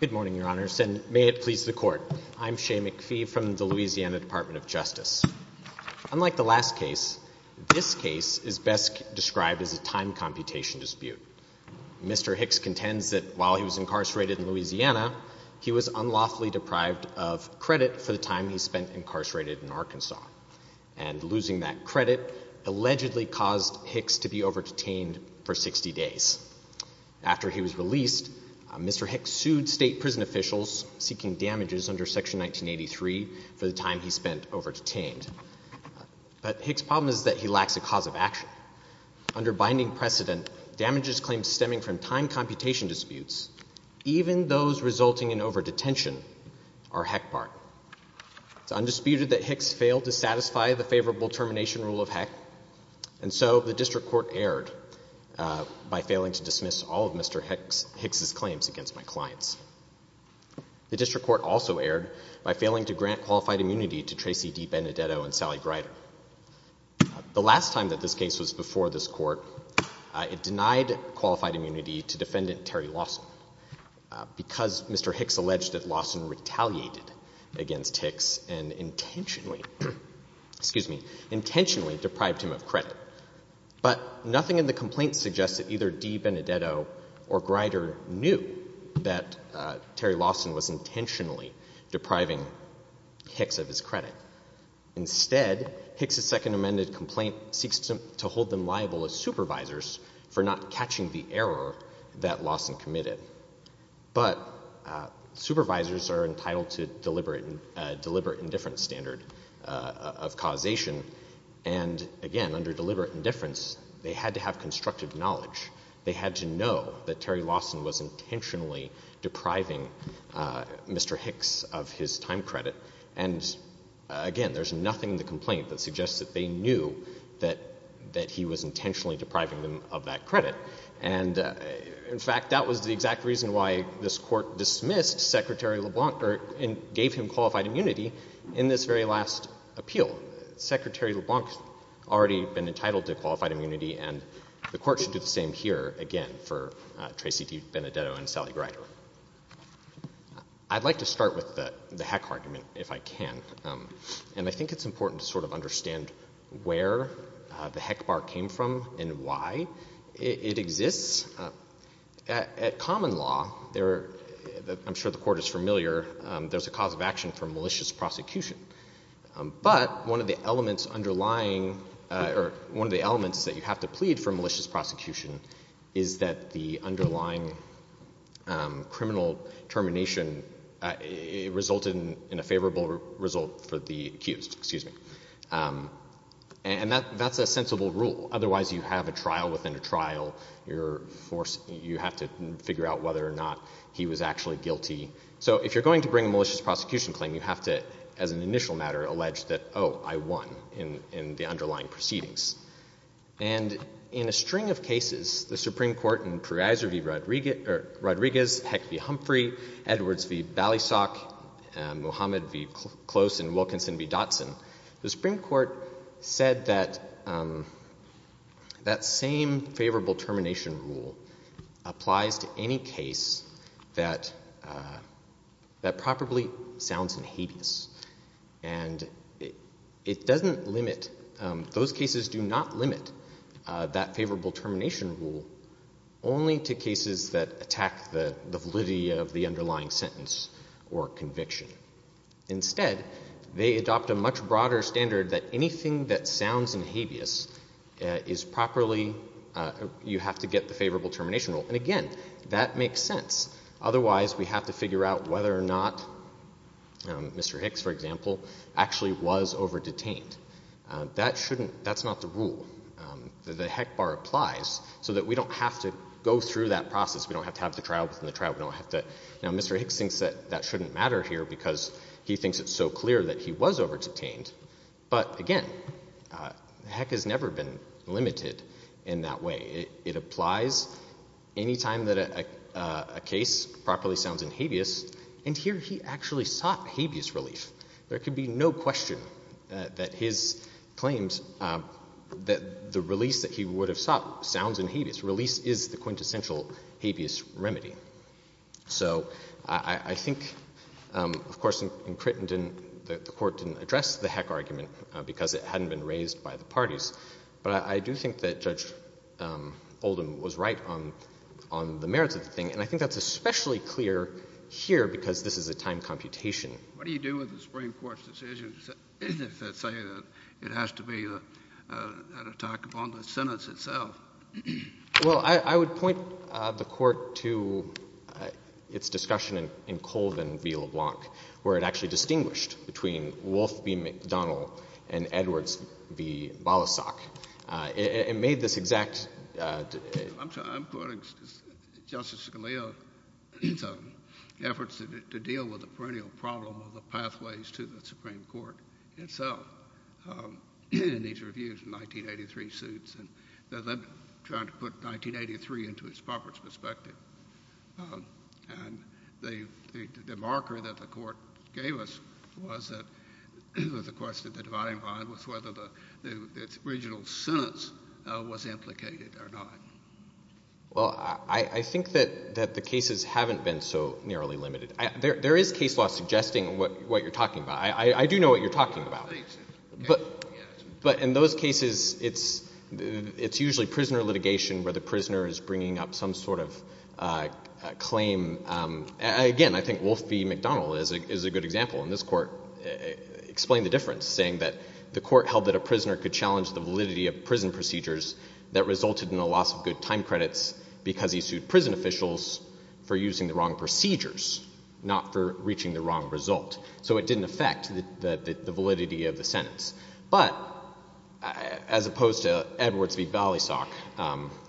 Good morning, Your Honors, and may it please the Court, I'm Shea McPhee from the Louisiana Department of Justice. Unlike the last case, this case is best described as a time computation dispute. Mr. Hicks contends that while he was incarcerated in Louisiana, he was unlawfully deprived of credit for the time he spent incarcerated in Arkansas, and losing that credit allegedly caused Hicks to be over-detained for 60 days. After he was released, Mr. Hicks sued state prison officials seeking damages under Section 1983 for the time he spent over-detained. But Hicks' problem is that he lacks a cause of action. Under binding precedent, damages claims stemming from time computation disputes, even those resulting in over-detention, are heck barred. It's undisputed that Hicks failed to satisfy the favorable termination rule of heck, and so the District Court erred by failing to dismiss all of Mr. Hicks' claims against my clients. The District Court also erred by failing to grant qualified immunity to Tracey D. Benedetto and Sally Greider. The last time that this case was before this Court, it denied qualified immunity to Defendant Terry Lawson because Mr. Hicks alleged that Lawson retaliated against Hicks and intentionally — excuse me — intentionally deprived him of credit. But nothing in the complaint suggests that either D. Benedetto or Greider knew that Terry Lawson was intentionally depriving Hicks of his credit. Instead, Hicks' second amended complaint seeks to hold them liable as supervisors for not catching the error that Lawson committed. But supervisors are entitled to deliberate indifference standard of causation, and again, under deliberate indifference, they had to have constructive evidence that Lawson was intentionally depriving Mr. Hicks of his time credit. And again, there's nothing in the complaint that suggests that they knew that — that he was intentionally depriving them of that credit. And in fact, that was the exact reason why this Court dismissed Secretary LeBlanc and gave him qualified immunity in this very last appeal. Secretary LeBlanc has already been entitled to qualified immunity, and the Court should do the same here, again, for Tracy D. Benedetto and Sally Greider. I'd like to start with the heck argument, if I can. And I think it's important to sort of understand where the heck bar came from and why it exists. At common law, I'm sure the Court is familiar, there's a cause of action for malicious prosecution. But one of the elements underlying — or one of the elements that you have to plead for malicious prosecution is that the underlying criminal termination resulted in a favorable result for the accused, excuse me. And that's a sensible rule. Otherwise, you have a trial within a trial. You're forced — you have to figure out whether or not he was actually guilty. So if you're going to bring a malicious prosecution claim, you have to, as an initial matter, allege that, oh, I won in the underlying proceedings. And in a string of cases, the Supreme Court in Proviso v. Rodriguez, Heck v. Humphrey, Edwards v. Ballysock, and Muhammad v. Close and Wilkinson v. Dotson, the Supreme Court said that that same favorable termination rule applies to any case that probably sounds inhedious. And it doesn't limit — those cases do not limit that favorable termination rule only to cases that attack the validity of the underlying sentence or conviction. Instead, they adopt a much broader standard that anything that sounds inhedious is properly — you have to get the favorable termination rule. And again, that makes sense. Otherwise, we have to figure out whether or not Mr. Hicks, for example, actually was over-detained. That shouldn't — that's not the rule. The Heck bar applies so that we don't have to go through that process. We don't have to have the trial within the trial. We don't have to — now, Mr. Hicks thinks that that shouldn't matter here because he thinks it's so clear that he was over-detained. But again, Heck has never been limited in that way. It applies any time that a case properly sounds inhedious. And here he actually sought habeas relief. There could be no question that his claims — that the release that he would have sought sounds inhedious. Release is the quintessential habeas remedy. So I think, of course, in Crittenden, the Court didn't address the Heck argument because it hadn't been raised by the parties. But I do think that Judge Oldham was right on the merits of the thing. And I think that's especially clear here because this is a time JUSTICE KENNEDY What do you do with the Supreme Court's decision to say that it has to be an attack upon the sentence itself? MR. RIEFFEL Well, I would point the Court to its discussion in Colvin v. LeBlanc, where it actually distinguished between Wolf v. McDonnell and Edwards v. Balasag. It made this exact — JUSTICE KENNEDY I'm quoting Justice Scalia's efforts to deal with the perennial problem of the pathways to the Supreme Court itself in these reviews in 1983 suits. And they're then trying to put 1983 into its proper perspective. And the marker that the Court gave us was that — was the question of the dividing line was whether the original sentence was implicated or not. MR. RIEFFEL Well, I think that the cases haven't been so narrowly limited. There is case law suggesting what you're talking about. I do know what you're talking about. JUSTICE KENNEDY But in those cases, it's usually prisoner litigation where the prisoner is bringing up some sort of claim. Again, I think Wolf v. McDonnell is a good example. And this Court explained the difference, saying that the Court held that a prisoner could challenge the validity of prison procedures that resulted in a loss of good time credits because he sued prison officials for using the wrong procedures, not for reaching the wrong result. So it didn't affect the validity of the sentence. But as opposed to Edwards v. Ballysock,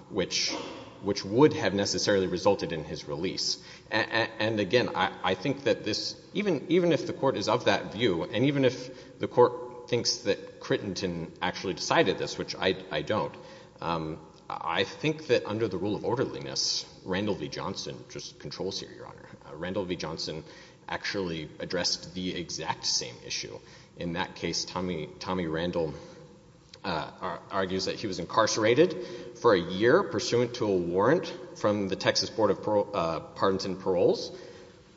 which would have necessarily resulted in his release. And again, I think that this — even if the Court is of that view, and even if the Court thinks that Crittenton actually decided this, which I don't, I think that under the rule of orderliness, Randall v. Johnson just controls here, Your Honor. Randall v. Johnson actually addressed the exact same issue. In that case, Tommy Randall argues that he was incarcerated for a year pursuant to a warrant from the Texas Board of Pardons and Paroles,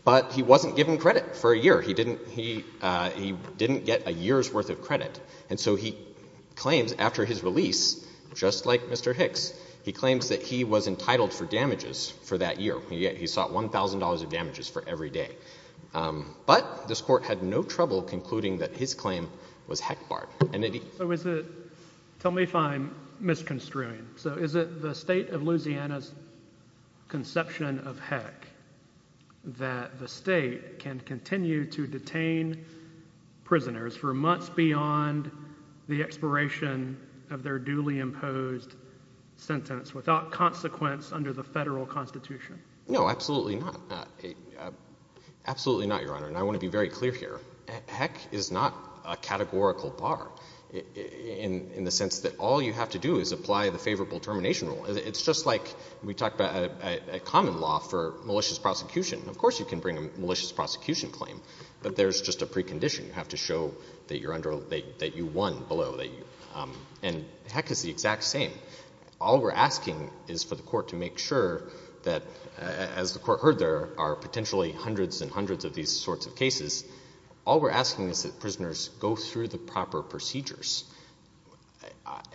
but he wasn't given credit for a year. He didn't get a year's worth of credit. And so he claims after his release, just like Mr. Hicks, he claims that he was entitled for damages for that year. He sought $1,000 of damages for every day. But this Court had no trouble concluding that his claim was heck barred. So is it — tell me if I'm misconstruing. So is it the state of Louisiana's conception of heck that the state can continue to detain prisoners for months beyond the expiration of their duly imposed sentence without consequence under the Federal Constitution? No, absolutely not. Absolutely not, Your Honor. And I want to be very clear here. Heck is not a categorical bar in the sense that all you have to do is apply the favorable termination rule. It's just like we talked about a common law for malicious prosecution. Of course, you can bring a malicious prosecution claim, but there's just a precondition. You have to show that you're under — that you won below. And heck is the exact same. All we're asking is for the Court to make sure that, as the Court heard, there are potentially hundreds and hundreds of these sorts of cases. All we're asking is that prisoners go through the proper procedures.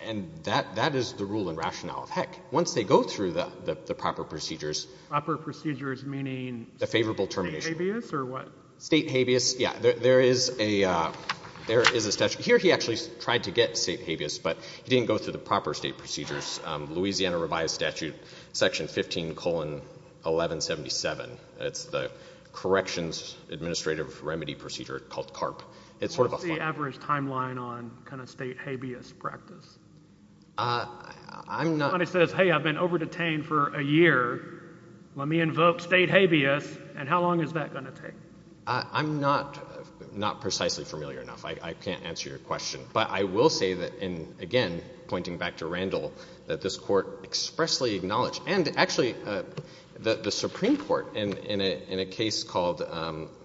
And that is the rule and rationale of heck. Once they go through the proper procedures — Proper procedures meaning — The favorable termination. State habeas or what? State habeas. Yeah. There is a statute — here he actually tried to get state habeas, but he didn't go through the proper state procedures. Louisiana revised statute section 15, 1177. It's the Corrections Administrative Remedy Procedure called CARP. It's sort of a — What's the average timeline on kind of state habeas practice? I'm not — Somebody says, hey, I've been over-detained for a year. Let me invoke state habeas. And how long is that going to take? I'm not precisely familiar enough. I can't answer your question. But I will say that in — again, pointing back to Randall, that this Court expressly acknowledged — and actually the Supreme Court, in a case called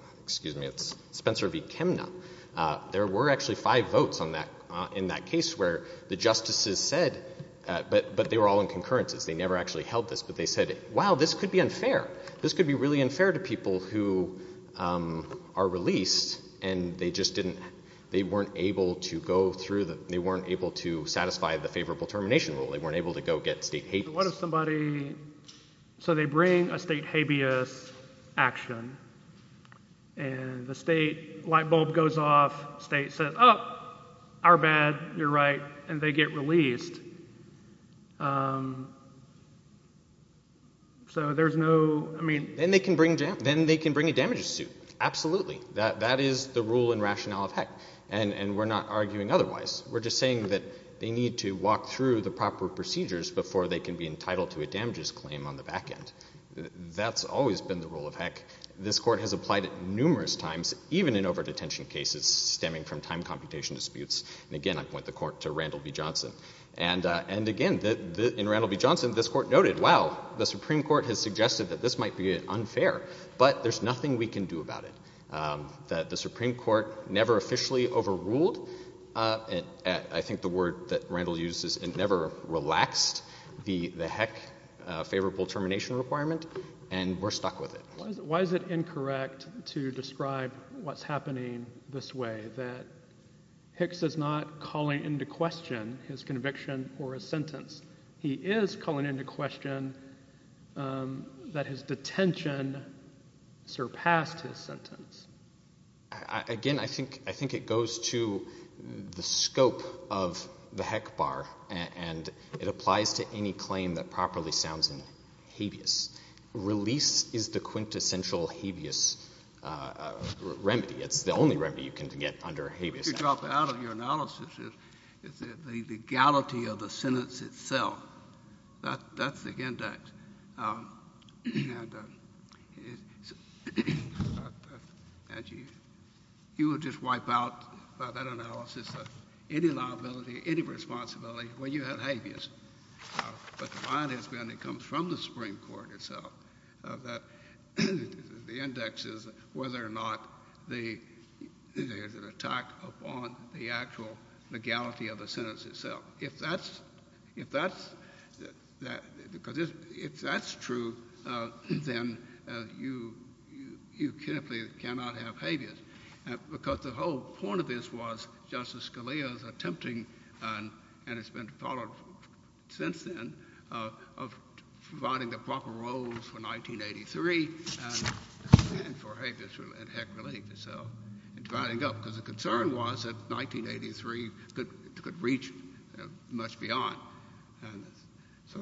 — excuse me, it's Spencer v. Kemna. There were actually five votes on that — in that case where the justices said — but they were all in concurrences. They never actually held this. But they said, wow, this could be unfair. This could be really unfair to people who are released, and they just didn't — they weren't able to go through the — they weren't able to satisfy the favorable termination rule. They weren't able to go get state habeas. What if somebody — so they bring a state habeas action, and the state light bulb goes off, state says, oh, our bad, you're right, and they get released. So there's no — I mean — Then they can bring a damages suit. Absolutely. That is the rule and rationale of HEC. And we're not arguing otherwise. We're just saying that they need to walk through the proper procedures before they can be entitled to a damages claim on the back end. That's always been the rule of HEC. This Court has applied it numerous times, even in over-detention cases stemming from time computation disputes. And again, I point the Court to Randall v. Johnson. And again, in Randall v. Johnson, this Court noted, wow, the Supreme Court has suggested that this might be unfair, but there's nothing we can do about it, that the Supreme Court never officially overruled — I think the word that Randall used is — it never relaxed the HEC favorable termination requirement, and we're stuck with it. Why is it incorrect to describe what's happening this way, that Hicks is not calling into question his conviction or his sentence? He is calling into question that his detention surpassed his sentence. Again, I think it goes to the scope of the HEC bar, and it applies to any claim that goes into central habeas remedy. It's the only remedy you can get under habeas statute. If you drop out of your analysis, it's the legality of the sentence itself. That's the index. And you would just wipe out, by that analysis, any liability, any responsibility when you have habeas. But the point has been, it comes from the Supreme Court itself, that the index is whether or not there's an attack upon the actual legality of the sentence itself. If that's true, then you simply cannot have habeas, because the whole point of this was Justice Scalia's attempting, and it's been followed since then, of providing the proper roles for 1983 and for habeas and HEC relief itself, and dividing up, because the concern was that 1983 could reach much beyond. So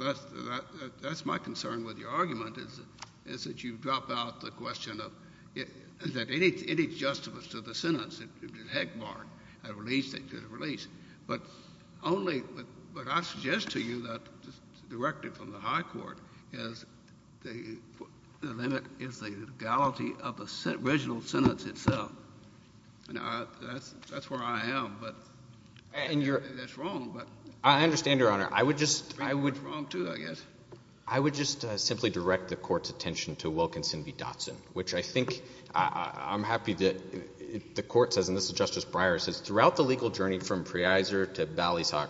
that's my concern with your argument, is that you drop out the question of, is there any justifice to the sentence? If HEC barred a release, they could have released. But only if HEC barred a release, they could have released. I mean, that's the whole point. But I suggest to you that the directive from the high court is the limit is the legality of the original sentence itself. That's where I am, but that's wrong. I understand, Your Honor. I would just — I think it's wrong, too, I guess. I would just simply direct the Court's attention to Wilkinson v. Dotson, which I think — I'm happy that the Court says, and this is Justice Breyer, says, throughout the legal journey from Preiser to Ballysock,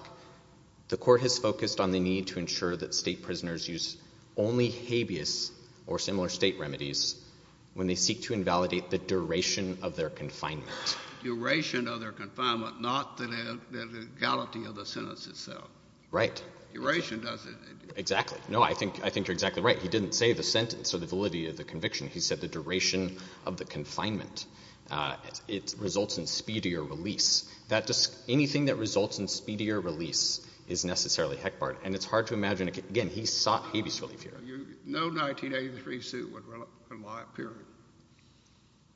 the Court has focused on the need to ensure that state prisoners use only habeas or similar state remedies when they seek to invalidate the duration of their confinement. Duration of their confinement, not the legality of the sentence itself. Right. Duration doesn't — Exactly. No, I think you're exactly right. He didn't say the sentence or the validity of the conviction. He said the duration of the confinement. It results in speedier release. Anything that results in speedier release is necessarily heck-barred. And it's hard to imagine — again, he sought habeas relief here. No 1983 suit would rely on period.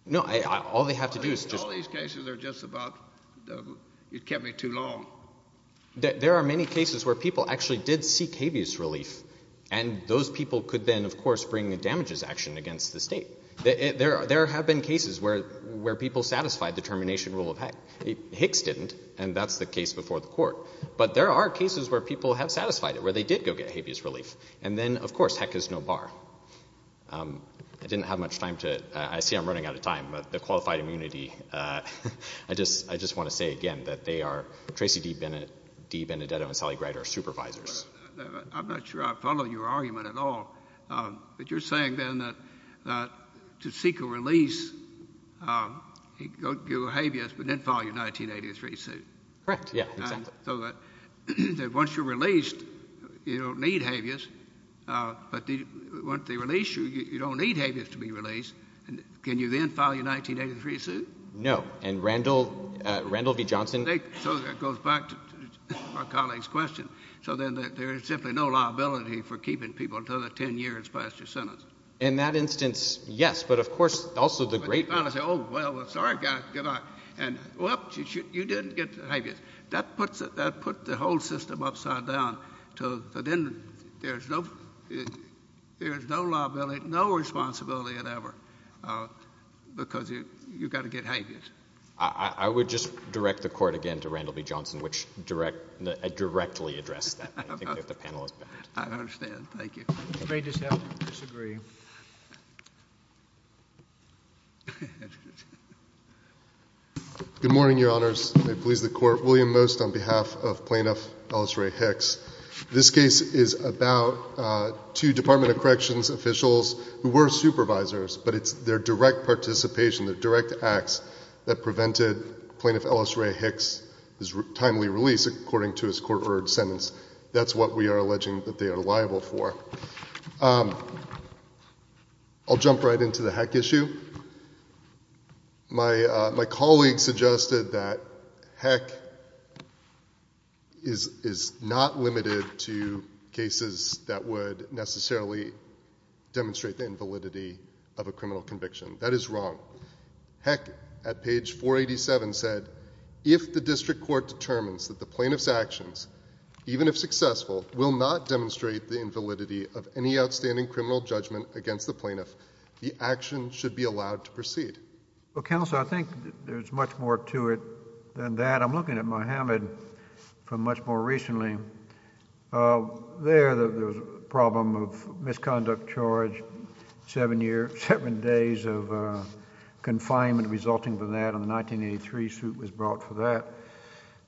No, all they have to do is just — All these cases are just about — it kept me too long. There are many cases where people actually did seek habeas relief, and those people could then, of course, bring a damages action against the state. There have been cases where people satisfied the termination rule of heck. Hicks didn't, and that's the case before the Court. But there are cases where people have satisfied it, where they did go get habeas relief. And then, of course, heck is no bar. I didn't have much time to — I see I'm running out of time. The qualified immunity — I just want to say again that they are — Tracy D. Benedetto and Sally Greider are supervisors. I'm not sure I follow your argument at all. But you're saying then that to seek a release, you go to habeas, but then file your 1983 suit. Correct. Yeah, exactly. So that once you're released, you don't need habeas. But once they release you, you don't need habeas to be released. Can you then file your 1983 suit? No. And Randall — Randall v. Johnson — So that goes back to my colleague's question. So then there is simply no liability for keeping people until the 10 years past your sentence. In that instance, yes. But, of course, also the great — But they finally say, oh, well, sorry guys, good luck. And, whoops, you didn't get habeas. That puts the whole system upside down. So then there's no liability, no responsibility at ever. Because you've got to get habeas. I would just direct the Court again to Randall v. Johnson, which directly addressed that. I think we have the panelists back. I understand. Thank you. You may just have to disagree. Good morning, Your Honors. May it please the Court. William Most on behalf of Plaintiff Ellis Ray Hicks. This case is about two Department of Corrections officials who were supervisors, but it's their direct participation, their direct acts that prevented Plaintiff Ellis Ray Hicks timely release according to his court-ordered sentence. That's what we are alleging that they are liable for. I'll jump right into the Heck issue. My colleague suggested that Heck is not limited to cases that would necessarily demonstrate the invalidity of a criminal conviction. That is wrong. Heck, at page 487, said, if the District Court determines that the plaintiff's actions, even if successful, will not demonstrate the invalidity of any outstanding criminal judgment against the plaintiff, the action should be allowed to proceed. Well, Counselor, I think there's much more to it than that. I'm looking at Mohammed from much more recently. There, there was a problem of misconduct charge, seven days of confinement resulting from that, and the 1983 suit was brought for that,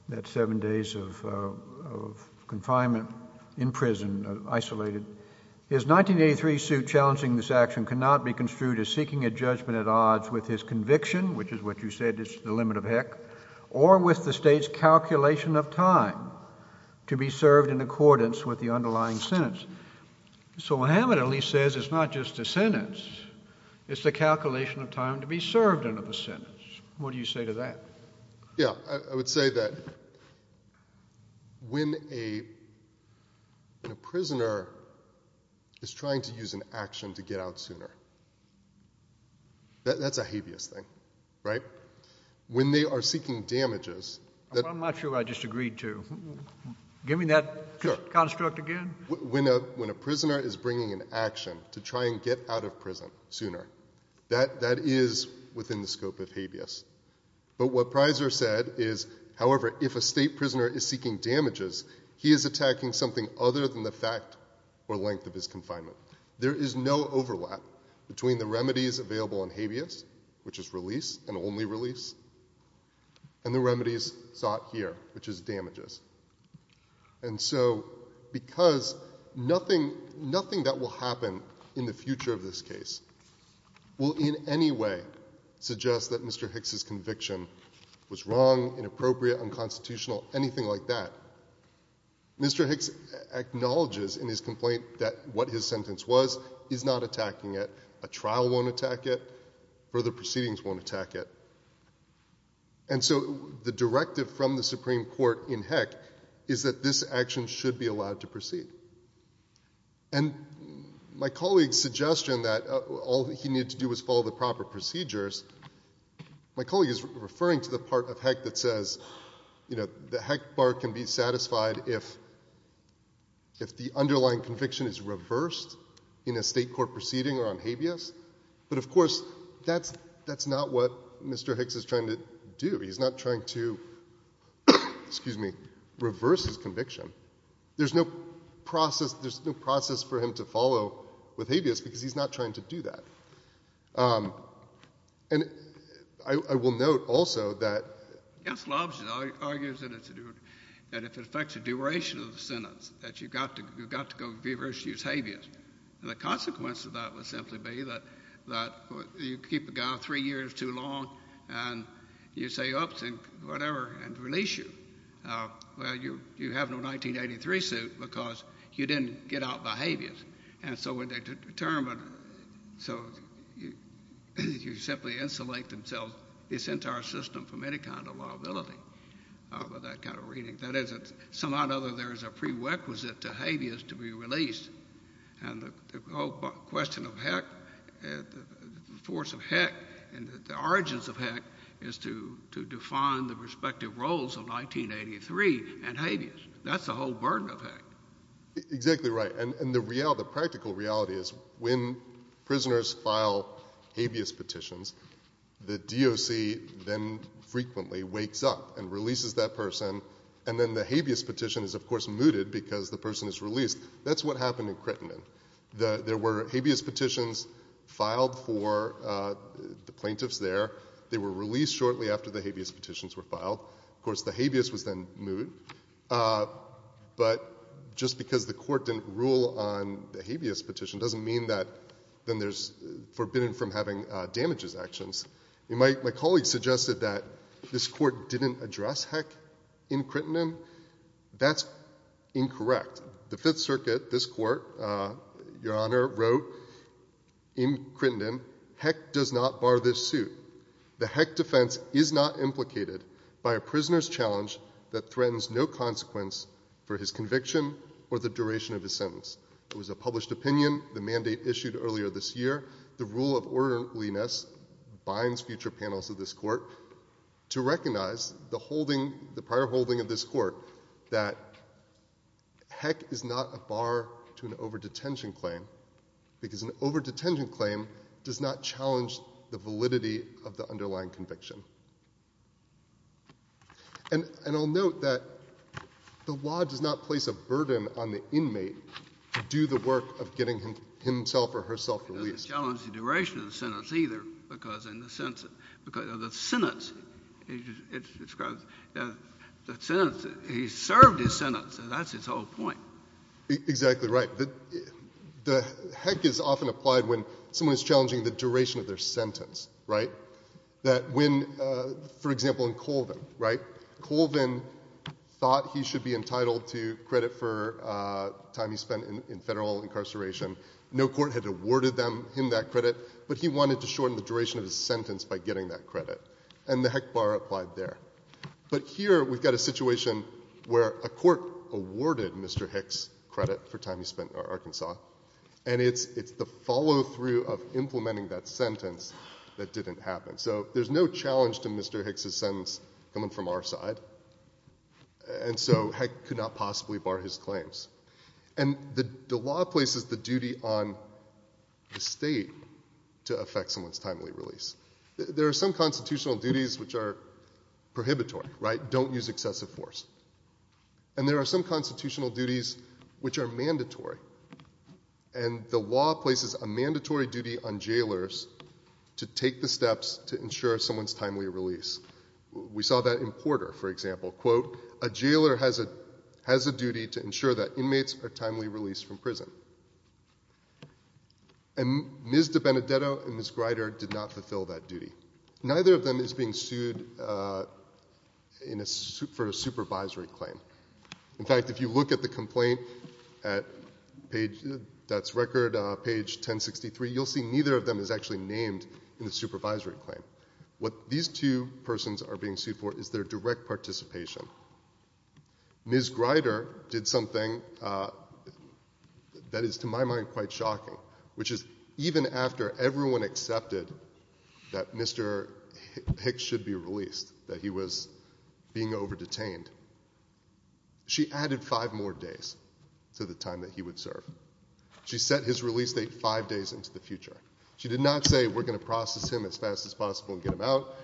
that seven days of confinement in prison, isolated. His 1983 suit challenging this action cannot be construed as seeking a judgment at odds with his conviction, which is what you said is the limit of Heck, or with the State's calculation of time to be served in accordance with the underlying sentence. So Mohammed at least says it's not just a sentence, it's the calculation of time to be served in a sentence. What do you say to that? Yeah, I would say that when a prisoner is trying to use an action to get out sooner, that's a habeas thing, right? When they are seeking damages... I'm not sure what I just agreed to. Give me that construct again. When a prisoner is bringing an action to try and get out of prison sooner, that is within the scope of habeas. But what Prysor said is, however, if a State prisoner is seeking damages, he is attacking something other than the fact or length of his confinement. There is no overlap between the remedies available in habeas, which is release and only release, and the remedies sought here, which is damages. And so, because nothing that will happen in the future of this case will in any way suggest that Mr. Hicks' conviction was wrong, inappropriate, unconstitutional, anything like that, Mr. Hicks acknowledges in his complaint that what his sentence was is not attacking it, a trial won't attack it, And so the directive from the Supreme Court in Heck is that this action should be allowed to proceed. And my colleague's suggestion that all he needed to do was follow the proper procedures, my colleague is referring to the part of Heck that says the Heck bar can be satisfied if the underlying conviction is reversed in a State court proceeding on habeas. But of course, that's not what Mr. Hicks is trying to do. He's not trying to... excuse me, reverse his conviction. There's no process for him to follow with habeas because he's not trying to do that. And I will note also that... Yes, Lobson argues that if it affects the duration of the sentence, that you've got to go reverse and use habeas. And the consequence of that would simply be that you keep a guy three years too long and you say, oops, and whatever, and release you. Well, you have no 1983 suit because you didn't get out by habeas. And so when they determine... So you simply insulate themselves, this entire system, from any kind of liability with that kind of reading. That is, somehow or another, there is a prerequisite to habeas to be released. And the whole question of Heck, the force of Heck, and the origins of Heck is to define the respective roles of 1983 and habeas. That's the whole burden of Heck. Exactly right. And the practical reality is, when prisoners file habeas petitions, the DOC then frequently wakes up and releases that person, and then the habeas petition is, of course, mooted because the person is released. That's what happened in Crittenden. There were habeas petitions filed for the plaintiffs there. They were released shortly after the habeas petitions were filed. Of course, the habeas was then mooted. But just because the court didn't rule on the habeas petition doesn't mean that then there's... forbidden from having damages actions. My colleague suggested that this court didn't address Heck in Crittenden. That's incorrect. The Fifth Circuit, this court, Your Honor, wrote in Crittenden, Heck does not bar this suit. The Heck defense is not implicated by a prisoner's challenge that threatens no consequence for his conviction or the duration of his sentence. It was a published opinion, the mandate issued earlier this year. The rule of orderliness binds future panels of this court to recognize the holding, the prior holding of this court, that Heck is not a bar to an overdetention claim because an overdetention claim does not challenge the validity of the underlying conviction. And I'll note that the law does not place a burden on the inmate to do the work of getting himself or herself released. It doesn't challenge the duration of the sentence either because in the sentence... He served his sentence. That's his whole point. Exactly right. The Heck is often applied when someone is challenging the duration of their sentence. For example, in Colvin. Colvin thought he should be entitled to credit for time he spent in federal incarceration. No court had awarded him that credit but he wanted to shorten the duration of his sentence by getting that credit. But here we've got a situation where a court awarded Mr. Heck's credit for time he spent in Arkansas and it's the follow-through of implementing that sentence that didn't happen. So there's no challenge to Mr. Heck's sentence coming from our side and so Heck could not possibly bar his claims. And the law places the duty on the state to effect someone's timely release. There are some constitutional duties which are prohibitory, right? Don't use excessive force. And there are some constitutional duties which are mandatory and the law places a mandatory duty on jailors to take the steps to ensure someone's timely release. We saw that in Porter, for example. A jailor has a duty to ensure that inmates are timely released from prison. And Ms. DiBenedetto and Ms. Greider did not fulfill that duty. Neither of them is being sued for a supervisory claim. In fact, if you look at the complaint that's record page 1063 you'll see neither of them is actually named in the supervisory claim. What these two persons are being sued for is their direct participation. Ms. Greider did something that is, to my mind, quite shocking which is, even after everyone accepted that Mr. Heck should be released that he was being over-detained she added five more days to the time that he would serve. She set his release date five days into the future. She did not say, we're going to process him as fast as possible and get him out.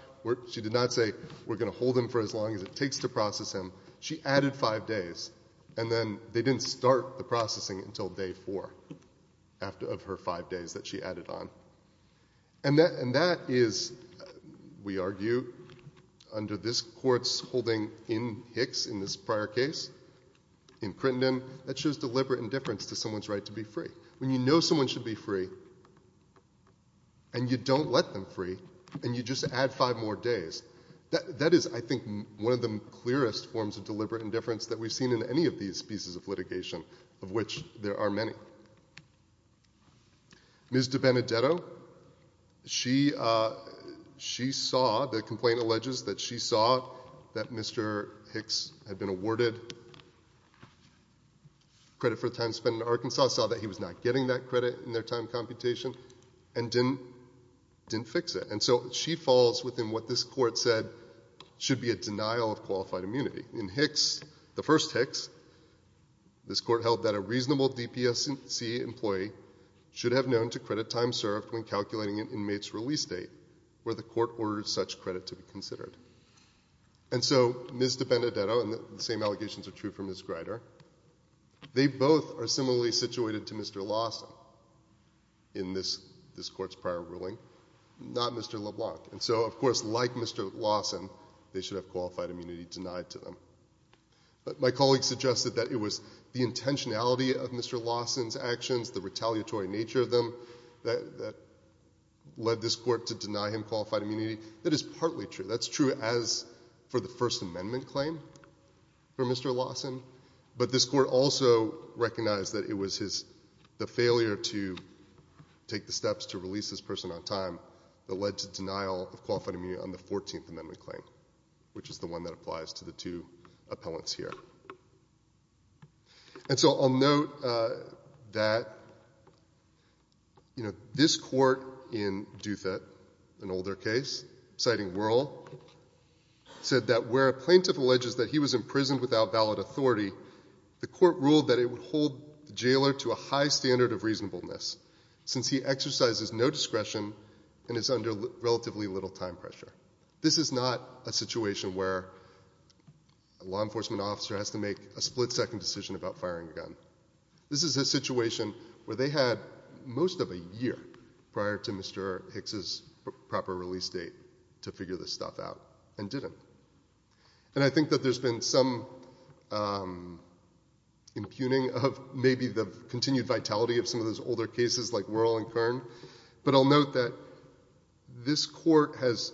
She did not say, we're going to hold him for as long as it takes to process him. She added five days and then they didn't start the processing until day four of her five days that she added on. And that is, we argue, under this court's holding in Hicks in this prior case, in Crittenden that shows deliberate indifference to someone's right to be free. When you know someone should be free and you don't let them free and you just add five more days that is, I think, one of the clearest forms of deliberate indifference that we've seen in any of these pieces of litigation of which there are many. Ms. DiBenedetto she saw, the complaint alleges that she saw that Mr. Hicks had been awarded credit for the time spent in Arkansas saw that he was not getting that credit in their time computation and didn't fix it. And so she falls within what this court said should be a denial of qualified immunity. In Hicks, the first Hicks, this court held that a reasonable DPSC employee should have known to credit time served when calculating an inmate's release date where the court ordered such credit to be considered. And so Ms. DiBenedetto, and the same allegations are true for Ms. Greider they both are similarly situated to Mr. Lawson in this court's prior ruling, not Mr. LeBlanc and so, of course, like Mr. Lawson they should have qualified immunity denied to them. But my colleagues suggested that it was the intentionality of Mr. Lawson's actions, the retaliatory nature of them that led this court to deny him qualified immunity that is partly true. That's true as for the First Amendment claim for Mr. Lawson but this court also recognized that it was the failure to take the steps to release this person on time that led to denial of qualified immunity on the Fourteenth Amendment claim which is the one that applies to the two appellants here. And so I'll note that this court in Douthat, an older case citing Wuerl said that where a plaintiff alleges that he was imprisoned without valid authority the court ruled that it would hold the jailer to a high standard of reasonableness since he exercises no discretion and is under relatively little time pressure. This is not a situation where a law enforcement officer has to make a split-second decision about firing a gun. This is a situation where they had most of a year prior to Mr. Hicks' proper release date to figure this stuff out and didn't. And I think that there's been some impugning of maybe the continued vitality of some of those older cases like Wuerl and Kern but I'll note that this court has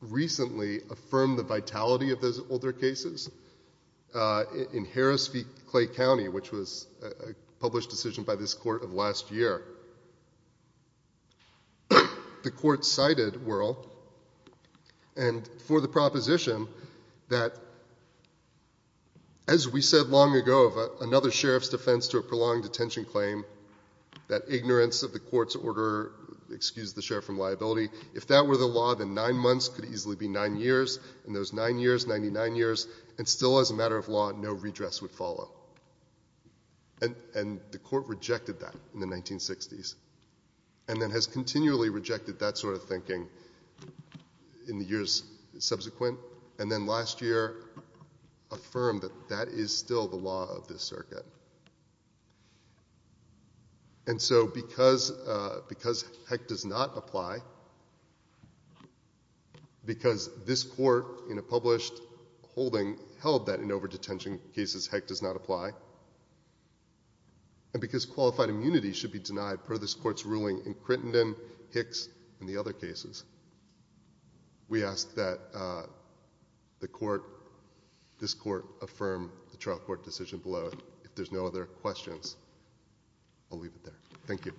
recently affirmed the vitality of those older cases in Harris v. Clay County which was a published decision by this court of last year. The court cited Wuerl and for the proposition that as we said long ago of another sheriff's defense to a prolonged detention claim that ignorance of the court's order excused the sheriff from liability if that were the law then 9 months could easily be 9 years and those 9 years, 99 years and still as a matter of law no redress would follow. And the court rejected that in the 1960s and then has continually rejected that sort of thinking in the years subsequent and then last year affirmed that that is still the law of this circuit. And so because Heck does not apply because this court in a published holding held that in over detention cases Heck does not apply and because qualified immunity should be denied per this court's ruling in Crittenden, Hicks and the other cases we ask that this court affirm the trial court decision below if there's no other questions I'll leave it there. Thank you.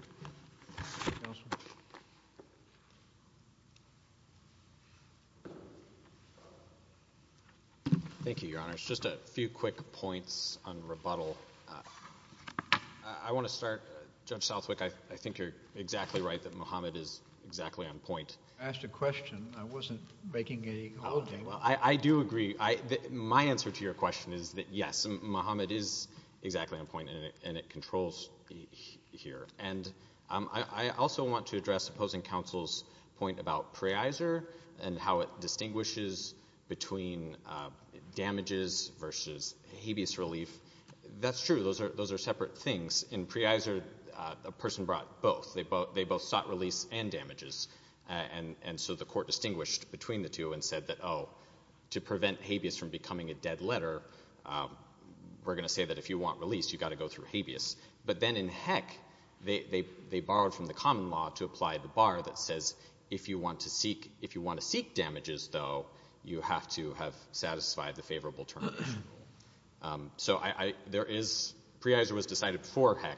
Thank you, your honor. Just a few quick points on rebuttal I want to start, Judge Southwick I think you're exactly right that Mohammed is exactly on point I asked a question, I wasn't making an apology I do agree, my answer to your question is that yes, Mohammed is exactly on point and it controls here I also want to address opposing counsel's point about pre-eiser and how it distinguishes between damages versus habeas relief. That's true, those are separate things. In pre-eiser, a person brought both they both sought release and damages and so the court distinguished between the two and said that to prevent habeas from becoming a dead letter we're going to say that if you want release, you've got to go through habeas but then in Heck, they borrowed from the common law to apply the bar that says if you want to seek damages, though you have to have satisfied the favorable term so pre-eiser was decided for Heck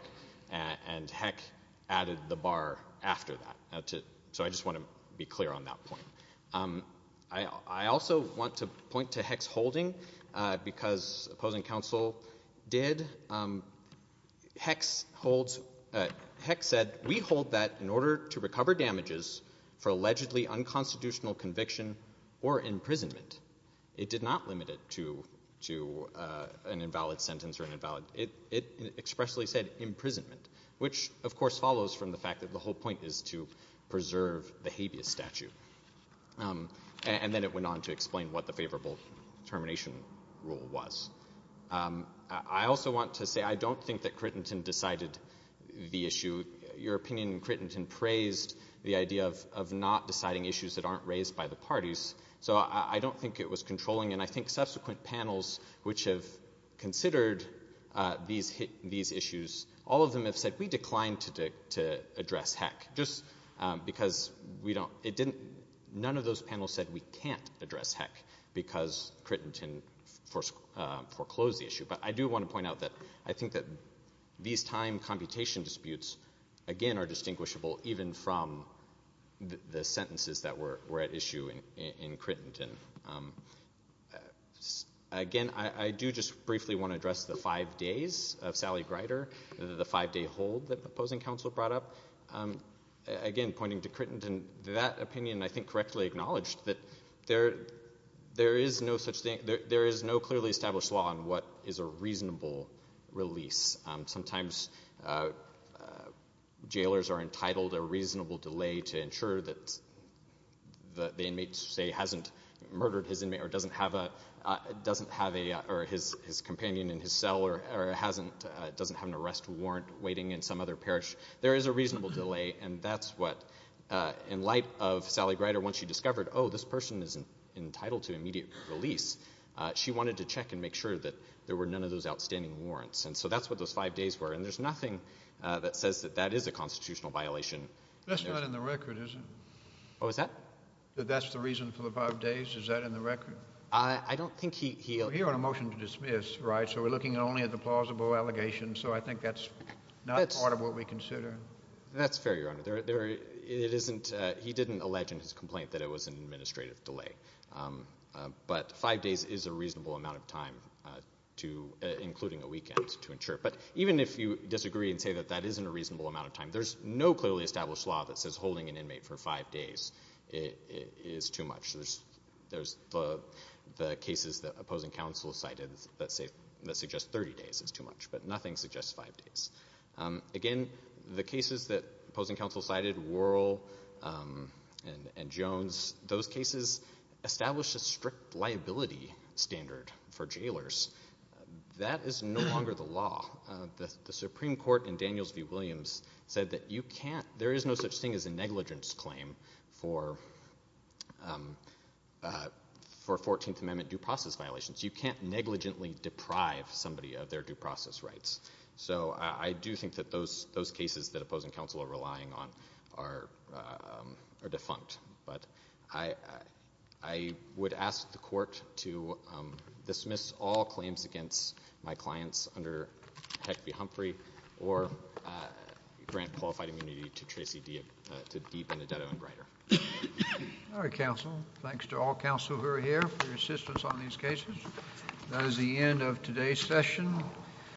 and Heck added the bar after that, so I just want to be clear on that point. I also want to point to Heck's holding because opposing counsel did Heck said, we hold that in order to recover damages for allegedly unconstitutional conviction or imprisonment it did not limit it to an invalid sentence, it expressly said imprisonment, which of course follows from the fact that the whole point is to preserve the habeas statute and then it went on to explain what the favorable termination rule was I also want to say, I don't think that Crittenton decided the issue, your opinion in Crittenton praised the idea of not deciding issues that aren't raised by the parties, so I don't think it was controlling and I think subsequent panels which have considered these issues all of them have said, we declined to address Heck just because none of those panels said we can't address Heck because Crittenton foreclosed the issue but I do want to point out that I think that these time computation disputes again are distinguishable even from the sentences that were at issue in Crittenton Again, I do just briefly want to address the five days of Sally Grider the five day hold that the opposing counsel brought up again, pointing to Crittenton, that opinion I think correctly acknowledged that there is no clearly established law on what is a reasonable release sometimes jailors are entitled a reasonable delay to ensure that the inmate hasn't murdered his inmate or doesn't have a companion in his cell or doesn't have an arrest warrant waiting in some other parish, there is a reasonable delay and that's what, in light of Sally Grider when she discovered, oh this person is entitled to immediate release, she wanted to check and make sure that there were none of those outstanding warrants, and so that's what those five days were and there's nothing that says that that is a constitutional violation That's not in the record, is it? That's the reason for the five days, is that in the record? We're here on a motion to dismiss, right? So we're looking only at the plausible allegations, so I think that's not part of what we consider That's fair, Your Honor. He didn't allege in his complaint that it was an administrative delay but five days is a reasonable amount of time including a weekend to ensure, but even if you disagree and say that that isn't a reasonable amount of time, there's no clearly established law that says holding an inmate for five days is too much. There's the cases that opposing counsel cited that suggest 30 days is too much, but nothing suggests five days Again, the cases that opposing counsel cited, Worrell and Jones, those cases established a strict liability standard for jailers That is no longer the law The Supreme Court in Daniels v. Williams said that there is no such thing as a negligence claim for 14th Amendment due process violations You can't negligently deprive somebody of their due process rights So I do think that those cases that opposing counsel are relying on are defunct I would ask the Court to dismiss all claims against my clients under Heck v. Humphrey or grant qualified immunity to Tracy Dee to Dee Benedetto and Greider All right, counsel. Thanks to all counsel who are here for your assistance on these cases That is the end of today's session